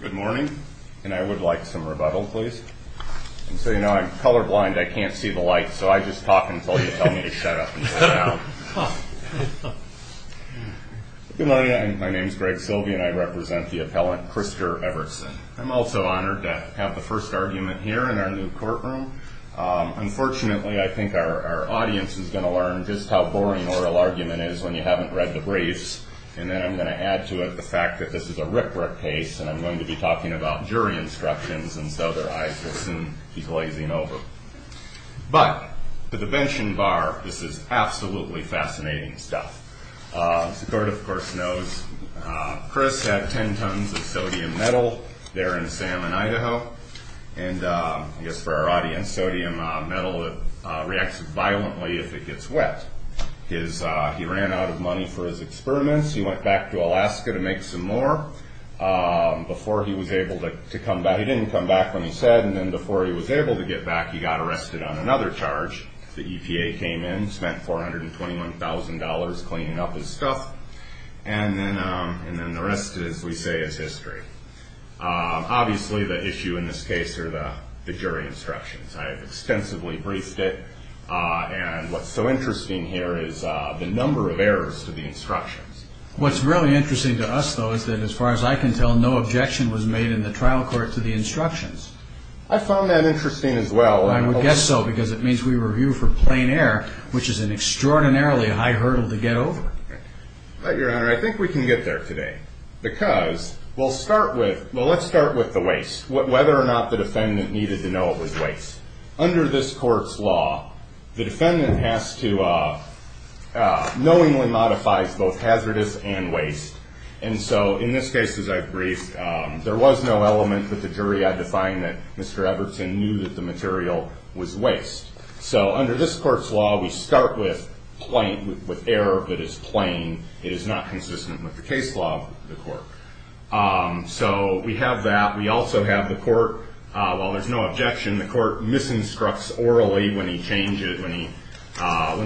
Good morning, and I would like some rebuttal, please. And so, you know, I'm colorblind, I can't see the lights, so I just talk until you tell me to shut up and shut down. Good morning, my name is Greg Silvey, and I represent the appellant Krister Evertson. I'm also honored to have the first argument here in our new courtroom. Unfortunately, I think our audience is going to learn just how boring oral argument is when you haven't read the briefs. And then I'm going to add to it the fact that this is a rip-rip case, and I'm going to be talking about jury instructions, and so their eyes will soon be glazing over. But, to the bench and bar, this is absolutely fascinating stuff. Secord, of course, knows Chris had 10 tons of sodium metal there in Salmon, Idaho. And, I guess for our audience, sodium metal reacts violently if it gets wet. He ran out of money for his experiments, he went back to Alaska to make some more. Before he was able to come back, he didn't come back when he said, and then before he was able to get back, he got arrested on another charge. The EPA came in, spent $421,000 cleaning up his stuff, and then the rest, as we say, is history. Obviously, the issue in this case are the jury instructions. I have extensively briefed it, and what's so interesting here is the number of errors to the instructions. What's really interesting to us, though, is that, as far as I can tell, no objection was made in the trial court to the instructions. I found that interesting as well. I would guess so, because it means we were viewed for plain error, which is an extraordinarily high hurdle to get over. But, Your Honor, I think we can get there today, because we'll start with, well, let's start with the waste. Whether or not the defendant needed to know it was waste. Under this court's law, the defendant has to knowingly modify both hazardous and waste. In this case, as I've briefed, there was no element that the jury had to find that Mr. Everton knew that the material was waste. Under this court's law, we start with error, but it's plain. It is not consistent with the case law of the court. So we have that. We also have the court, while there's no objection, the court misinstructs orally when he changes, when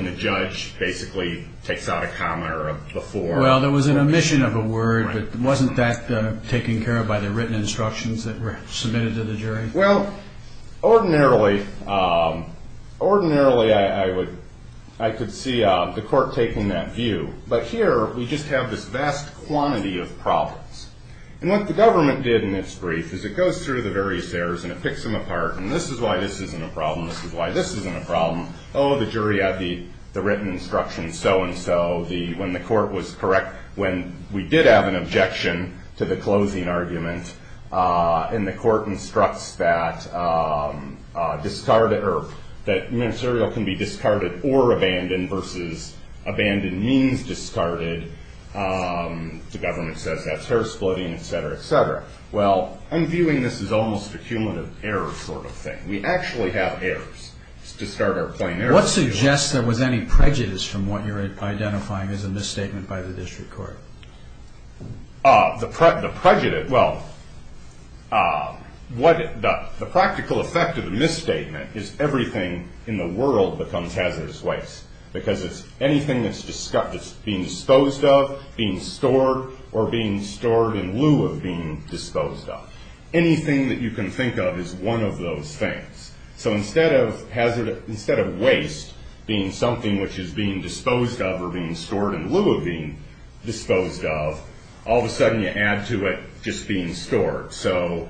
the judge basically takes out a comment or a before. Well, there was an omission of a word, but wasn't that taken care of by the written instructions that were submitted to the jury? Well, ordinarily, I could see the court taking that view. But here, we just have this vast quantity of problems. And what the government did in this brief is it goes through the various errors, and it picks them apart, and this is why this isn't a problem, this is why this isn't a problem. Oh, the jury had the written instructions so-and-so. When the court was correct, when we did have an objection to the closing argument, and the court instructs that discarded or that ministerial can be discarded or abandoned versus abandoned means discarded, the government says that's error splitting, et cetera, et cetera. Well, I'm viewing this as almost a cumulative error sort of thing. We actually have errors. It's discard or plain error. What suggests there was any prejudice from what you're identifying as a misstatement by the district court? The prejudice, well, the practical effect of the misstatement is everything in the world becomes hazardous waste, because it's anything that's being disposed of, being stored, or being stored in lieu of being disposed of. Anything that you can think of is one of those things. So instead of waste being something which is being disposed of or being stored in lieu of being disposed of, all of a sudden you add to it just being stored. So,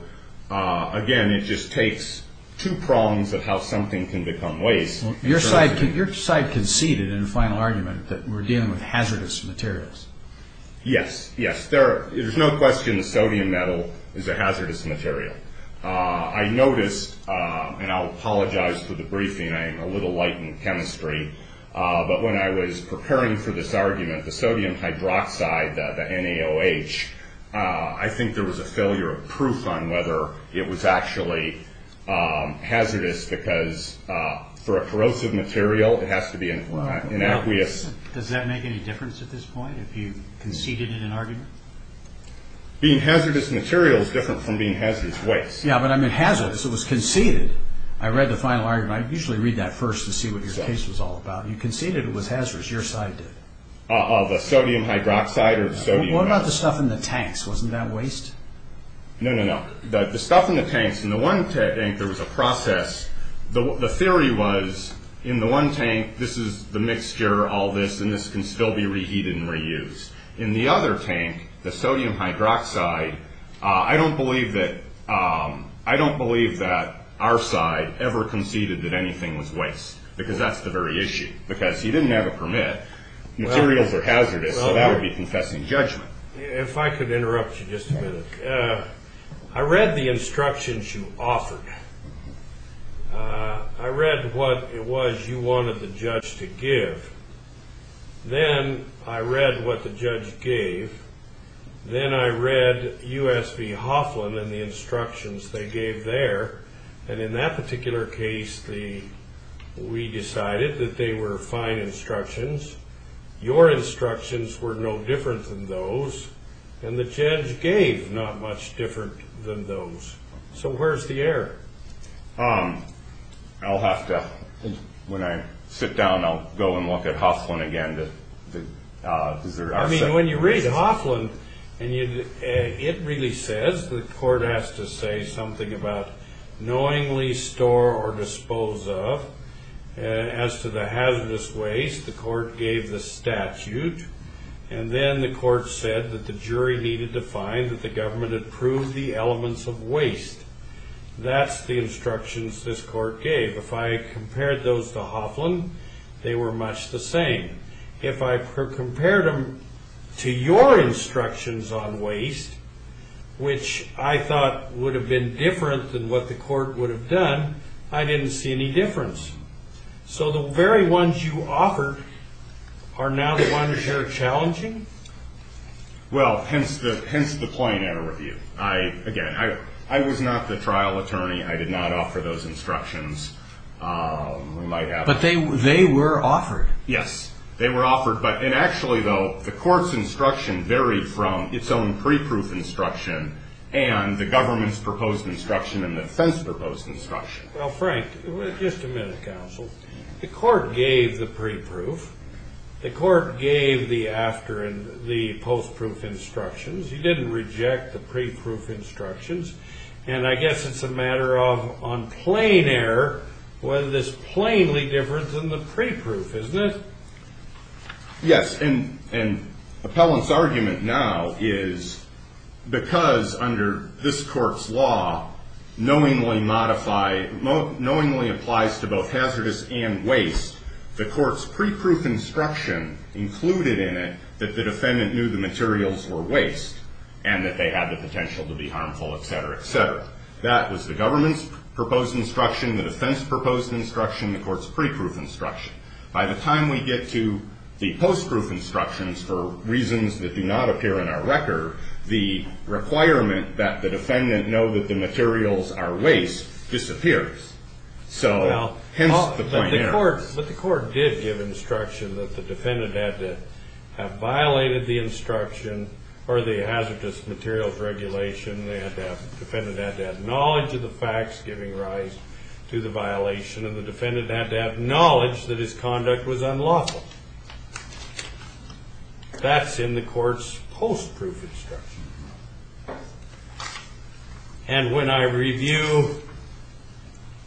again, it just takes two prongs of how something can become waste. Your side conceded in the final argument that we're dealing with hazardous materials. Yes, yes. There's no question sodium metal is a hazardous material. I noticed, and I'll apologize for the briefing, I'm a little light in chemistry, but when I was preparing for this argument, the sodium hydroxide, the NaOH, I think there was a failure of proof on whether it was actually hazardous, because for a corrosive material it has to be an aqueous. Does that make any difference at this point, if you conceded in an argument? Being hazardous material is different from being hazardous waste. Yes, but I mean hazardous. It was conceded. I read the final argument. I usually read that first to see what your case was all about. You conceded it was hazardous. Your side did. Of sodium hydroxide or sodium metal. What about the stuff in the tanks? Wasn't that waste? No, no, no. The stuff in the tanks, in the one tank there was a process. The theory was, in the one tank, this is the mixture, all this, and this can still be reheated and reused. In the other tank, the sodium hydroxide, I don't believe that our side ever conceded that anything was waste, because that's the very issue, because he didn't have a permit. Materials are hazardous, so that would be confessing judgment. If I could interrupt you just a minute. I read the instructions you offered. I read what it was you wanted the judge to give. Then I read what the judge gave. Then I read U.S. v. Hoffman and the instructions they gave there. And in that particular case, we decided that they were fine instructions. Your instructions were no different than those, and the judge gave not much different than those. So where's the error? I'll have to, when I sit down, I'll go and look at Hoffman again. I mean, when you read Hoffman, it really says, the court has to say something about knowingly store or dispose of. As to the hazardous waste, the court gave the statute, and then the court said that the jury needed to find that the government approved the elements of waste. That's the instructions this court gave. If I compared those to Hoffman, they were much the same. If I compared them to your instructions on waste, which I thought would have been different than what the court would have done, I didn't see any difference. So the very ones you offered are now the ones you're challenging? Well, hence the point in our review. Again, I was not the trial attorney. I did not offer those instructions. But they were offered. Yes, they were offered. And actually, though, the court's instruction varied from its own pre-proof instruction and the government's proposed instruction and the defense proposed instruction. Well, Frank, just a minute, counsel. The court gave the pre-proof. The court gave the after and the post-proof instructions. You didn't reject the pre-proof instructions. And I guess it's a matter of on plain error whether this plainly differs from the pre-proof, isn't it? And Appellant's argument now is because under this court's law, knowingly applies to both hazardous and waste, the court's pre-proof instruction included in it that the defendant knew the materials were waste and that they had the potential to be harmful, et cetera, et cetera. That was the government's proposed instruction, the defense proposed instruction, the court's pre-proof instruction. By the time we get to the post-proof instructions, for reasons that do not appear in our record, the requirement that the defendant know that the materials are waste disappears. So, hence the point here. But the court did give instruction that the defendant had to have violated the instruction or the hazardous materials regulation. The defendant had to have knowledge of the facts giving rise to the violation and the defendant had to have knowledge that his conduct was unlawful. That's in the court's post-proof instruction. And when I review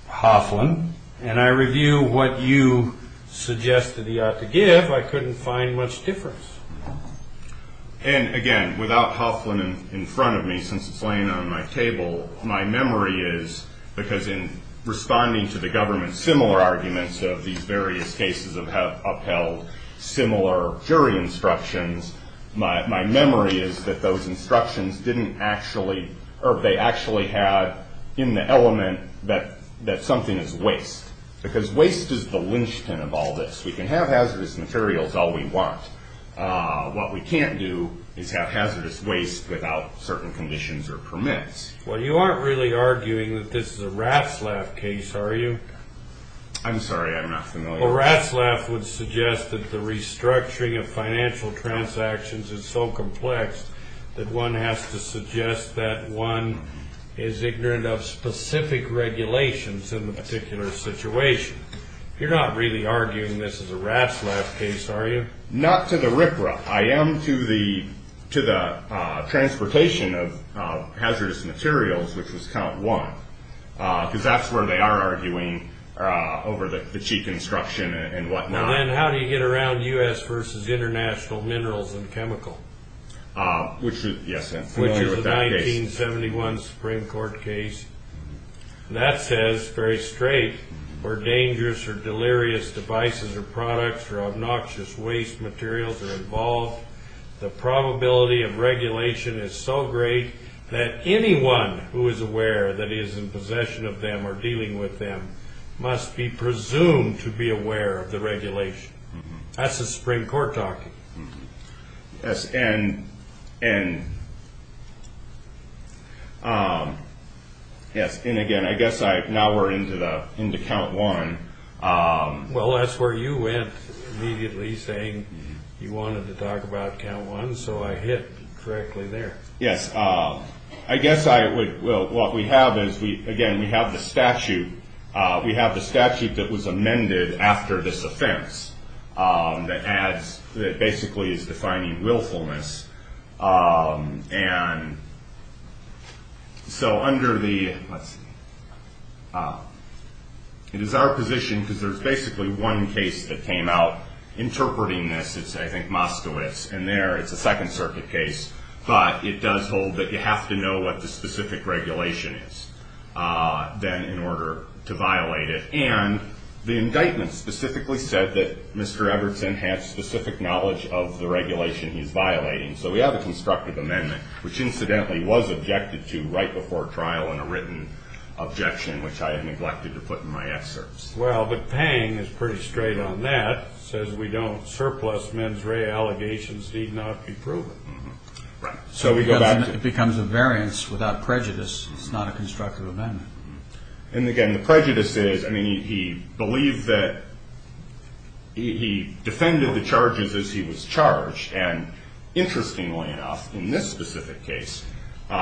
Hoffman and I review what you suggested he ought to give, I couldn't find much difference. And again, without Hoffman in front of me, since it's laying on my table, my memory is, because in responding to the government's similar arguments of these various cases of Appell, similar jury instructions, my memory is that those instructions didn't actually, or they actually had in the element that something is waste. Because waste is the linchpin of all this. We can have hazardous materials all we want. What we can't do is have hazardous waste without certain conditions or permits. Well, you aren't really arguing that this is a Ratzlaff case, are you? I'm sorry, I'm not familiar. Well, Ratzlaff would suggest that the restructuring of financial transactions is so complex that one has to suggest that one is ignorant of specific regulations in a particular situation. You're not really arguing this is a Ratzlaff case, are you? Not to the riprap. I am to the transportation of hazardous materials, which was count one, because that's where they are arguing over the cheap construction and whatnot. Now then, how do you get around U.S. versus international minerals and chemical? Which is, yes, I'm familiar with that case. Which is a 1971 Supreme Court case. That says very straight, where dangerous or delirious devices or products or obnoxious waste materials are involved, the probability of regulation is so great that anyone who is aware that he is in possession of them or dealing with them must be presumed to be aware of the regulation. That's the Supreme Court talking. Yes, and again, I guess now we're into count one. Well, that's where you went immediately, saying you wanted to talk about count one, so I hit directly there. Yes, I guess what we have is, again, we have the statute. We have the statute that was amended after this offense that basically is defining willfulness. And so under the, let's see, it is our position, because there's basically one case that came out interpreting this. It's, I think, Moskowitz, and there it's a Second Circuit case. But it does hold that you have to know what the specific regulation is, then, in order to violate it. And the indictment specifically said that Mr. Ebertson had specific knowledge of the regulation he's violating. So we have a constructive amendment, which incidentally was objected to right before trial in a written objection, which I had neglected to put in my excerpts. Well, but Pang is pretty straight on that. Says we don't surplus mens rea allegations need not be proven. Right. So we go back to the It becomes a variance without prejudice. It's not a constructive amendment. And again, the prejudice is, I mean, he believed that he defended the charges as he was charged. And interestingly enough, in this specific case,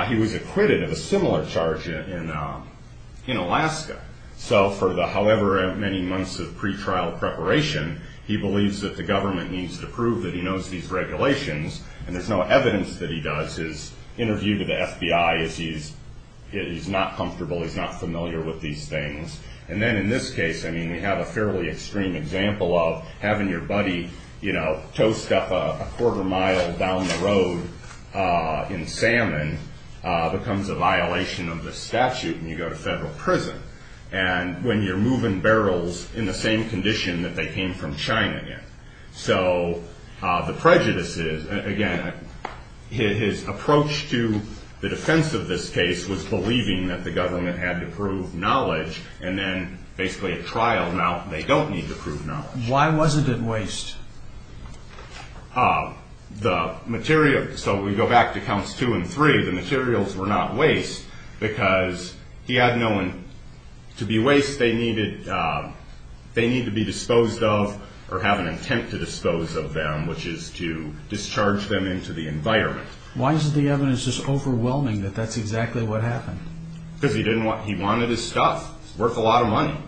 he was acquitted of a similar charge in Alaska. So for the however many months of pretrial preparation, he believes that the government needs to prove that he knows these regulations. And there's no evidence that he does. His interview with the FBI is he's not comfortable. He's not familiar with these things. And then in this case, I mean, we have a fairly extreme example of having your buddy, you know, toast up a quarter mile down the road in salmon becomes a violation of the statute. And you go to federal prison. And when you're moving barrels in the same condition that they came from China. So the prejudice is, again, his approach to the defense of this case was believing that the government had to prove knowledge and then basically a trial. Now they don't need to prove knowledge. Why wasn't it waste? The material. So we go back to counts two and three. The materials were not waste because he had no one to be waste. They needed they need to be disposed of or have an intent to dispose of them, which is to discharge them into the environment. Why is the evidence just overwhelming that that's exactly what happened? Because he didn't want he wanted his stuff worth a lot of money.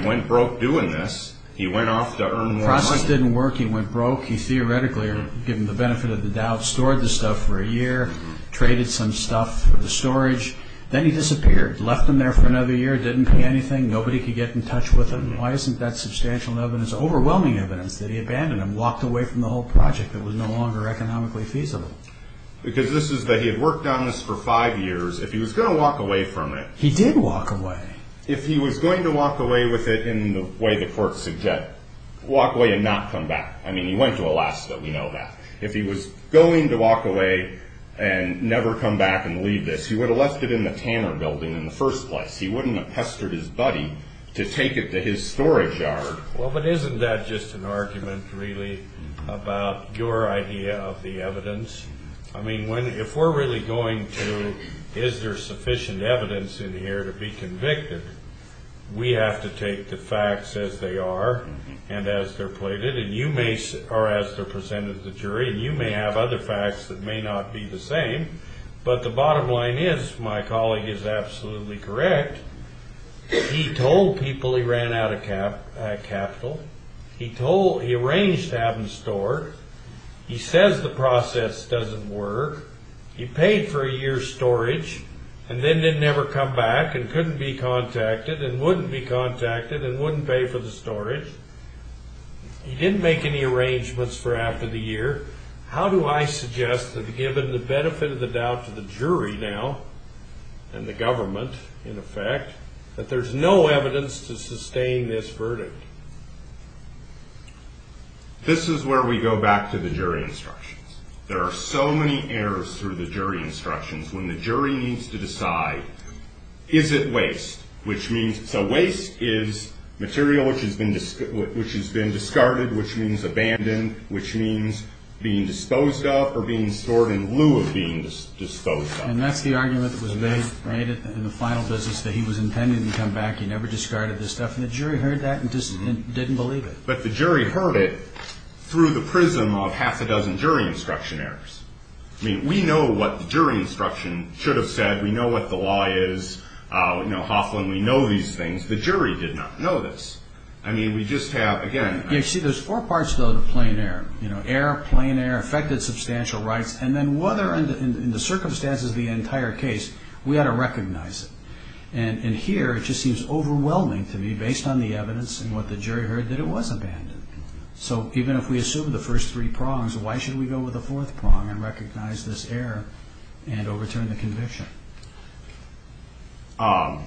He went broke doing this. He went off to earn more money. The process didn't work. He went broke. He theoretically, given the benefit of the doubt, stored the stuff for a year, traded some stuff for the storage. Then he disappeared, left them there for another year. Didn't pay anything. Nobody could get in touch with him. Why isn't that substantial evidence, overwhelming evidence that he abandoned them, walked away from the whole project that was no longer economically feasible? Because this is that he had worked on this for five years. If he was going to walk away from it. He did walk away. If he was going to walk away with it in the way the court suggested, walk away and not come back. I mean, he went to Alaska. We know that. If he was going to walk away and never come back and leave this, he would have left it in the Tanner building in the first place. He wouldn't have pestered his buddy to take it to his storage yard. Well, but isn't that just an argument, really, about your idea of the evidence? I mean, if we're really going to, is there sufficient evidence in here to be convicted, we have to take the facts as they are and as they're plated, or as they're presented to the jury, and you may have other facts that may not be the same. But the bottom line is, my colleague is absolutely correct. He told people he ran out of capital. He told, he arranged to have them stored. He says the process doesn't work. He paid for a year's storage and then didn't ever come back and couldn't be contacted and wouldn't be contacted and wouldn't pay for the storage. He didn't make any arrangements for after the year. How do I suggest that given the benefit of the doubt to the jury now, and the government, in effect, that there's no evidence to sustain this verdict? This is where we go back to the jury instructions. There are so many errors through the jury instructions. When the jury needs to decide, is it waste, which means, so waste is material which has been discarded, which means abandoned, which means being disposed of or being stored in lieu of being disposed of. And that's the argument that was made in the final business, that he was intending to come back. He never discarded this stuff, and the jury heard that and just didn't believe it. But the jury heard it through the prism of half a dozen jury instruction errors. I mean, we know what the jury instruction should have said. We know what the law is. You know, Hoffman, we know these things. The jury did not know this. I mean, we just have, again, You see, there's four parts, though, to plain error. You know, error, plain error, affected substantial rights, and then whether in the circumstances of the entire case, we ought to recognize it. And here, it just seems overwhelming to me, based on the evidence and what the jury heard, that it was abandoned. So even if we assume the first three prongs, why should we go with the fourth prong and recognize this error and overturn the conviction?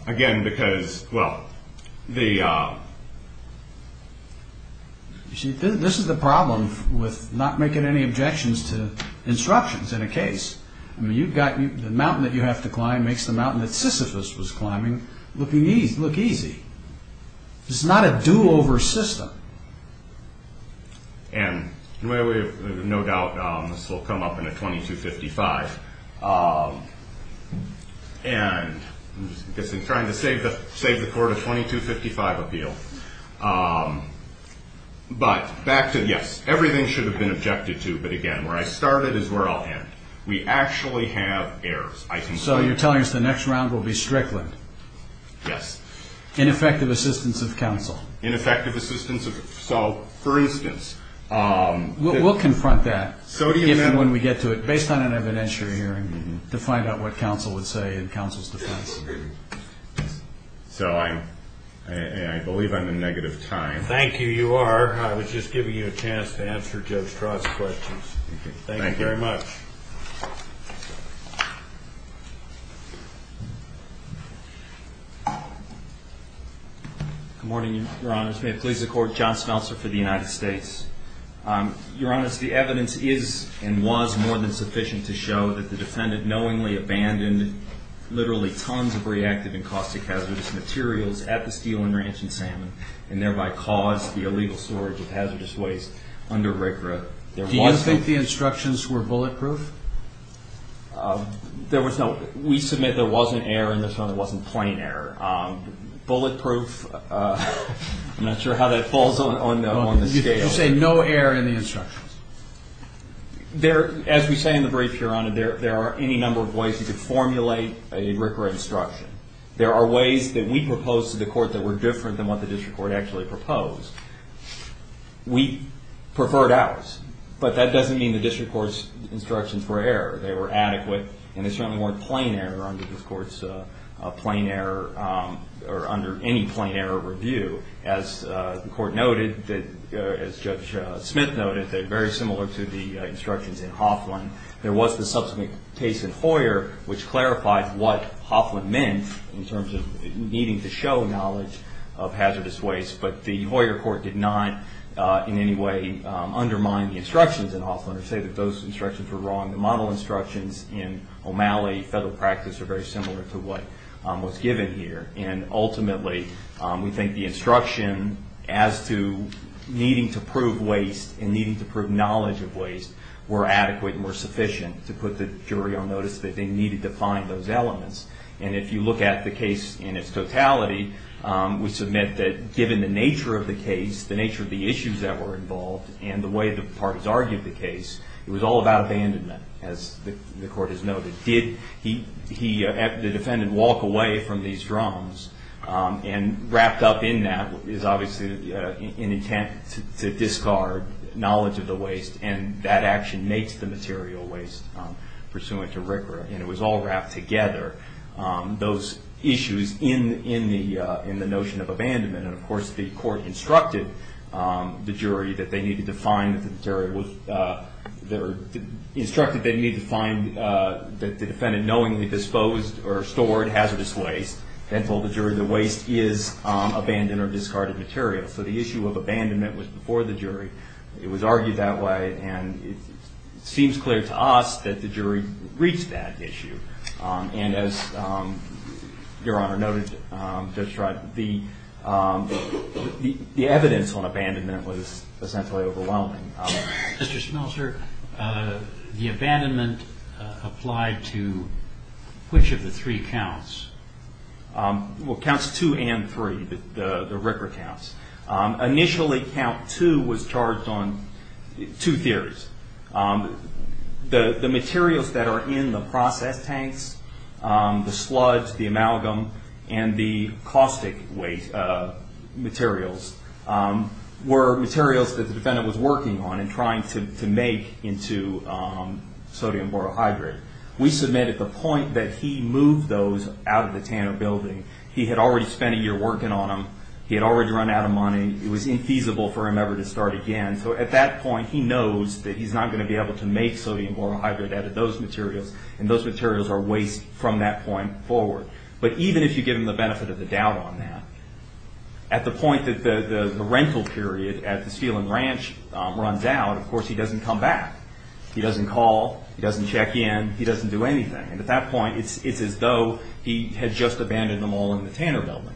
Again, because, well, the You see, this is the problem with not making any objections to instructions in a case. I mean, you've got, the mountain that you have to climb makes the mountain that Sisyphus was climbing look easy. It's not a do-over system. And no doubt this will come up in a 2255. And I guess I'm trying to save the court a 2255 appeal. But back to, yes, everything should have been objected to. But again, where I started is where I'll end. We actually have errors, I think. So you're telling us the next round will be Strickland? Yes. Ineffective assistance of counsel. Ineffective assistance of, so, for instance. We'll confront that, given when we get to it, based on an evidentiary hearing, to find out what counsel would say in counsel's defense. So I believe I'm in negative time. Thank you, you are. I was just giving you a chance to answer Judge Trott's questions. Thank you very much. Good morning, your honors. May it please the court. John Smeltzer for the United States. Your honors, the evidence is and was more than sufficient to show that the defendant knowingly abandoned literally tons of reactive and caustic hazardous materials at the steel and ranch in Salmon, and thereby caused the illegal storage of hazardous waste under RCRA. Do you think the instructions were bulletproof? There was no, we submit there wasn't error in this one. There wasn't plain error. Bulletproof, I'm not sure how that falls on the scale. You say no error in the instructions. There, as we say in the brief, your honor, there are any number of ways you could formulate a RCRA instruction. There are ways that we propose to the court that were different than what the district court actually proposed. We preferred ours, but that doesn't mean the district court's instructions were error. They were adequate, and they certainly weren't plain error under this court's plain error, or under any plain error review. As the court noted, as Judge Smith noted, they're very similar to the instructions in Hoffman. There was the subsequent case in Hoyer which clarified what Hoffman meant in terms of needing to show knowledge of hazardous waste, but the Hoyer court did not in any way undermine the instructions in Hoffman or say that those instructions were wrong. The model instructions in O'Malley federal practice are very similar to what was given here. Ultimately, we think the instruction as to needing to prove waste and needing to prove knowledge of waste were adequate and were sufficient to put the jury on notice that they needed to find those elements. If you look at the case in its totality, we submit that given the nature of the case, the nature of the issues that were involved, and the way the parties argued the case, it was all about abandonment, as the court has noted. Did the defendant walk away from these drums, and wrapped up in that is obviously an intent to discard knowledge of the waste, and that action makes the material waste pursuant to RCRA, and it was all wrapped together. Those issues in the notion of abandonment, and of course the court instructed the jury that they needed to find that the defendant knowingly disposed or stored hazardous waste, and told the jury the waste is abandoned or discarded material. So the issue of abandonment was before the jury. It was argued that way, and it seems clear to us that the jury reached that issue. And as Your Honor noted just right, the evidence on abandonment was essentially overwhelming. Mr. Schmeltzer, the abandonment applied to which of the three counts? Counts two and three, the RCRA counts. Initially count two was charged on two theories. The materials that are in the process tanks, the sludge, the amalgam, and the caustic materials, were materials that the defendant was working on and trying to make into sodium borohydrate. We submitted the point that he moved those out of the Tanner building. He had already spent a year working on them. He had already run out of money. It was infeasible for him ever to start again. So at that point, he knows that he's not going to be able to make sodium borohydrate out of those materials, and those materials are waste from that point forward. But even if you give him the benefit of the doubt on that, at the point that the rental period at the Steele and Ranch runs out, of course, he doesn't come back. He doesn't call. He doesn't check in. He doesn't do anything. And at that point, it's as though he had just abandoned them all in the Tanner building.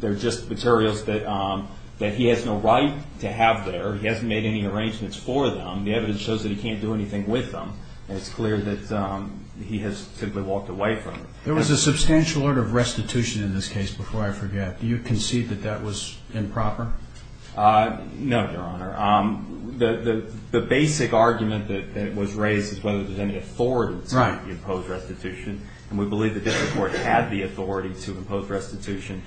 They're just materials that he has no right to have there. He hasn't made any arrangements for them. The evidence shows that he can't do anything with them, and it's clear that he has simply walked away from them. There was a substantial order of restitution in this case, before I forget. Do you concede that that was improper? No, Your Honor. The basic argument that was raised is whether there's any authority to impose restitution, and we believe the district court had the authority to impose restitution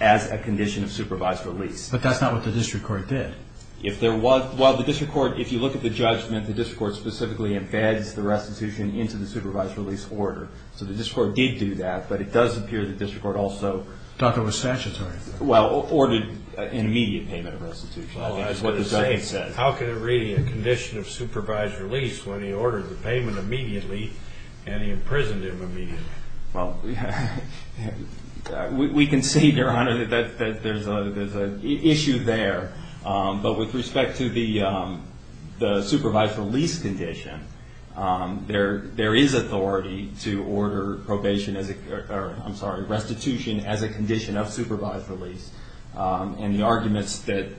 as a condition of supervised release. But that's not what the district court did. If there was, well, the district court, if you look at the judgment, the district court specifically embeds the restitution into the supervised release order. So the district court did do that, but it does appear the district court also Thought that was statutory. Well, ordered an immediate payment of restitution, is what the judgment said. How can it really be a condition of supervised release when he ordered the payment immediately and he imprisoned him immediately? Well, we concede, Your Honor, that there's an issue there. But with respect to the supervised release condition, there is authority to order restitution as a condition of supervised release. And the arguments that...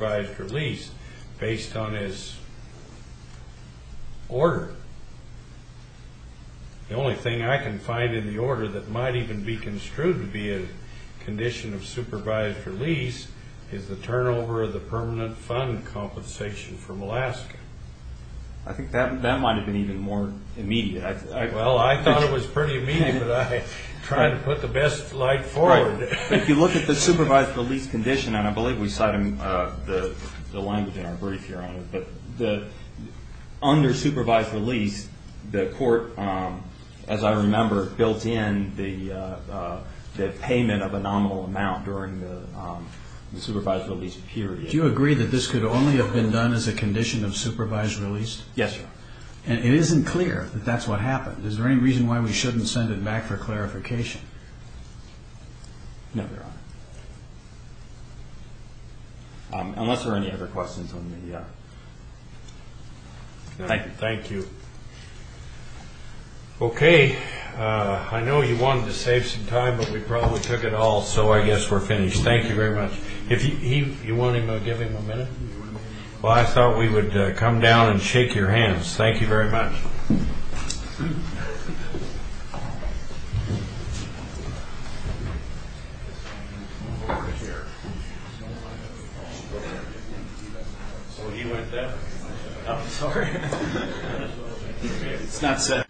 are based on his order. The only thing I can find in the order that might even be construed to be a condition of supervised release is the turnover of the permanent fund compensation from Alaska. I think that might have been even more immediate. Well, I thought it was pretty immediate, but I tried to put the best light forward. If you look at the supervised release condition, and I believe we cited the language in our brief, Your Honor, but under supervised release, the court, as I remember, built in the payment of a nominal amount during the supervised release period. Do you agree that this could only have been done as a condition of supervised release? Yes, Your Honor. And it isn't clear that that's what happened. Is there any reason why we shouldn't send it back for clarification? No, Your Honor. Unless there are any other questions on the... Thank you. Thank you. Okay. I know you wanted to save some time, but we probably took it all, so I guess we're finished. Thank you very much. You want to give him a minute? Well, I thought we would come down and shake your hands. Thank you very much. Move over here. So he went there? I'm sorry. It's not set.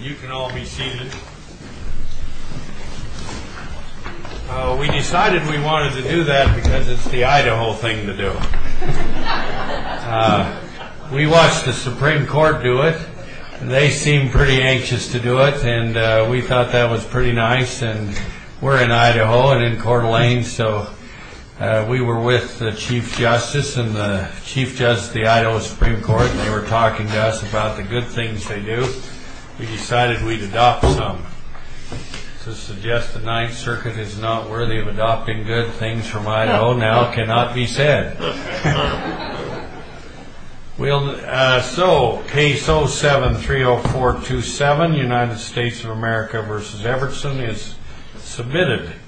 You can all be seated. We decided we wanted to do that because it's the Idaho thing to do. We watched the Supreme Court do it, and they seemed pretty anxious to do it, and we thought that was pretty nice. And we're in Idaho and in Coeur d'Alene, so we were with the Chief Justice and the Chief Justice of the Idaho Supreme Court, and they were talking to us about the good things they do. We decided we'd adopt some. To suggest the Ninth Circuit is not worthy of adopting good things from Idaho now cannot be said. So, case 07-30427, United States of America v. Everson, is submitted.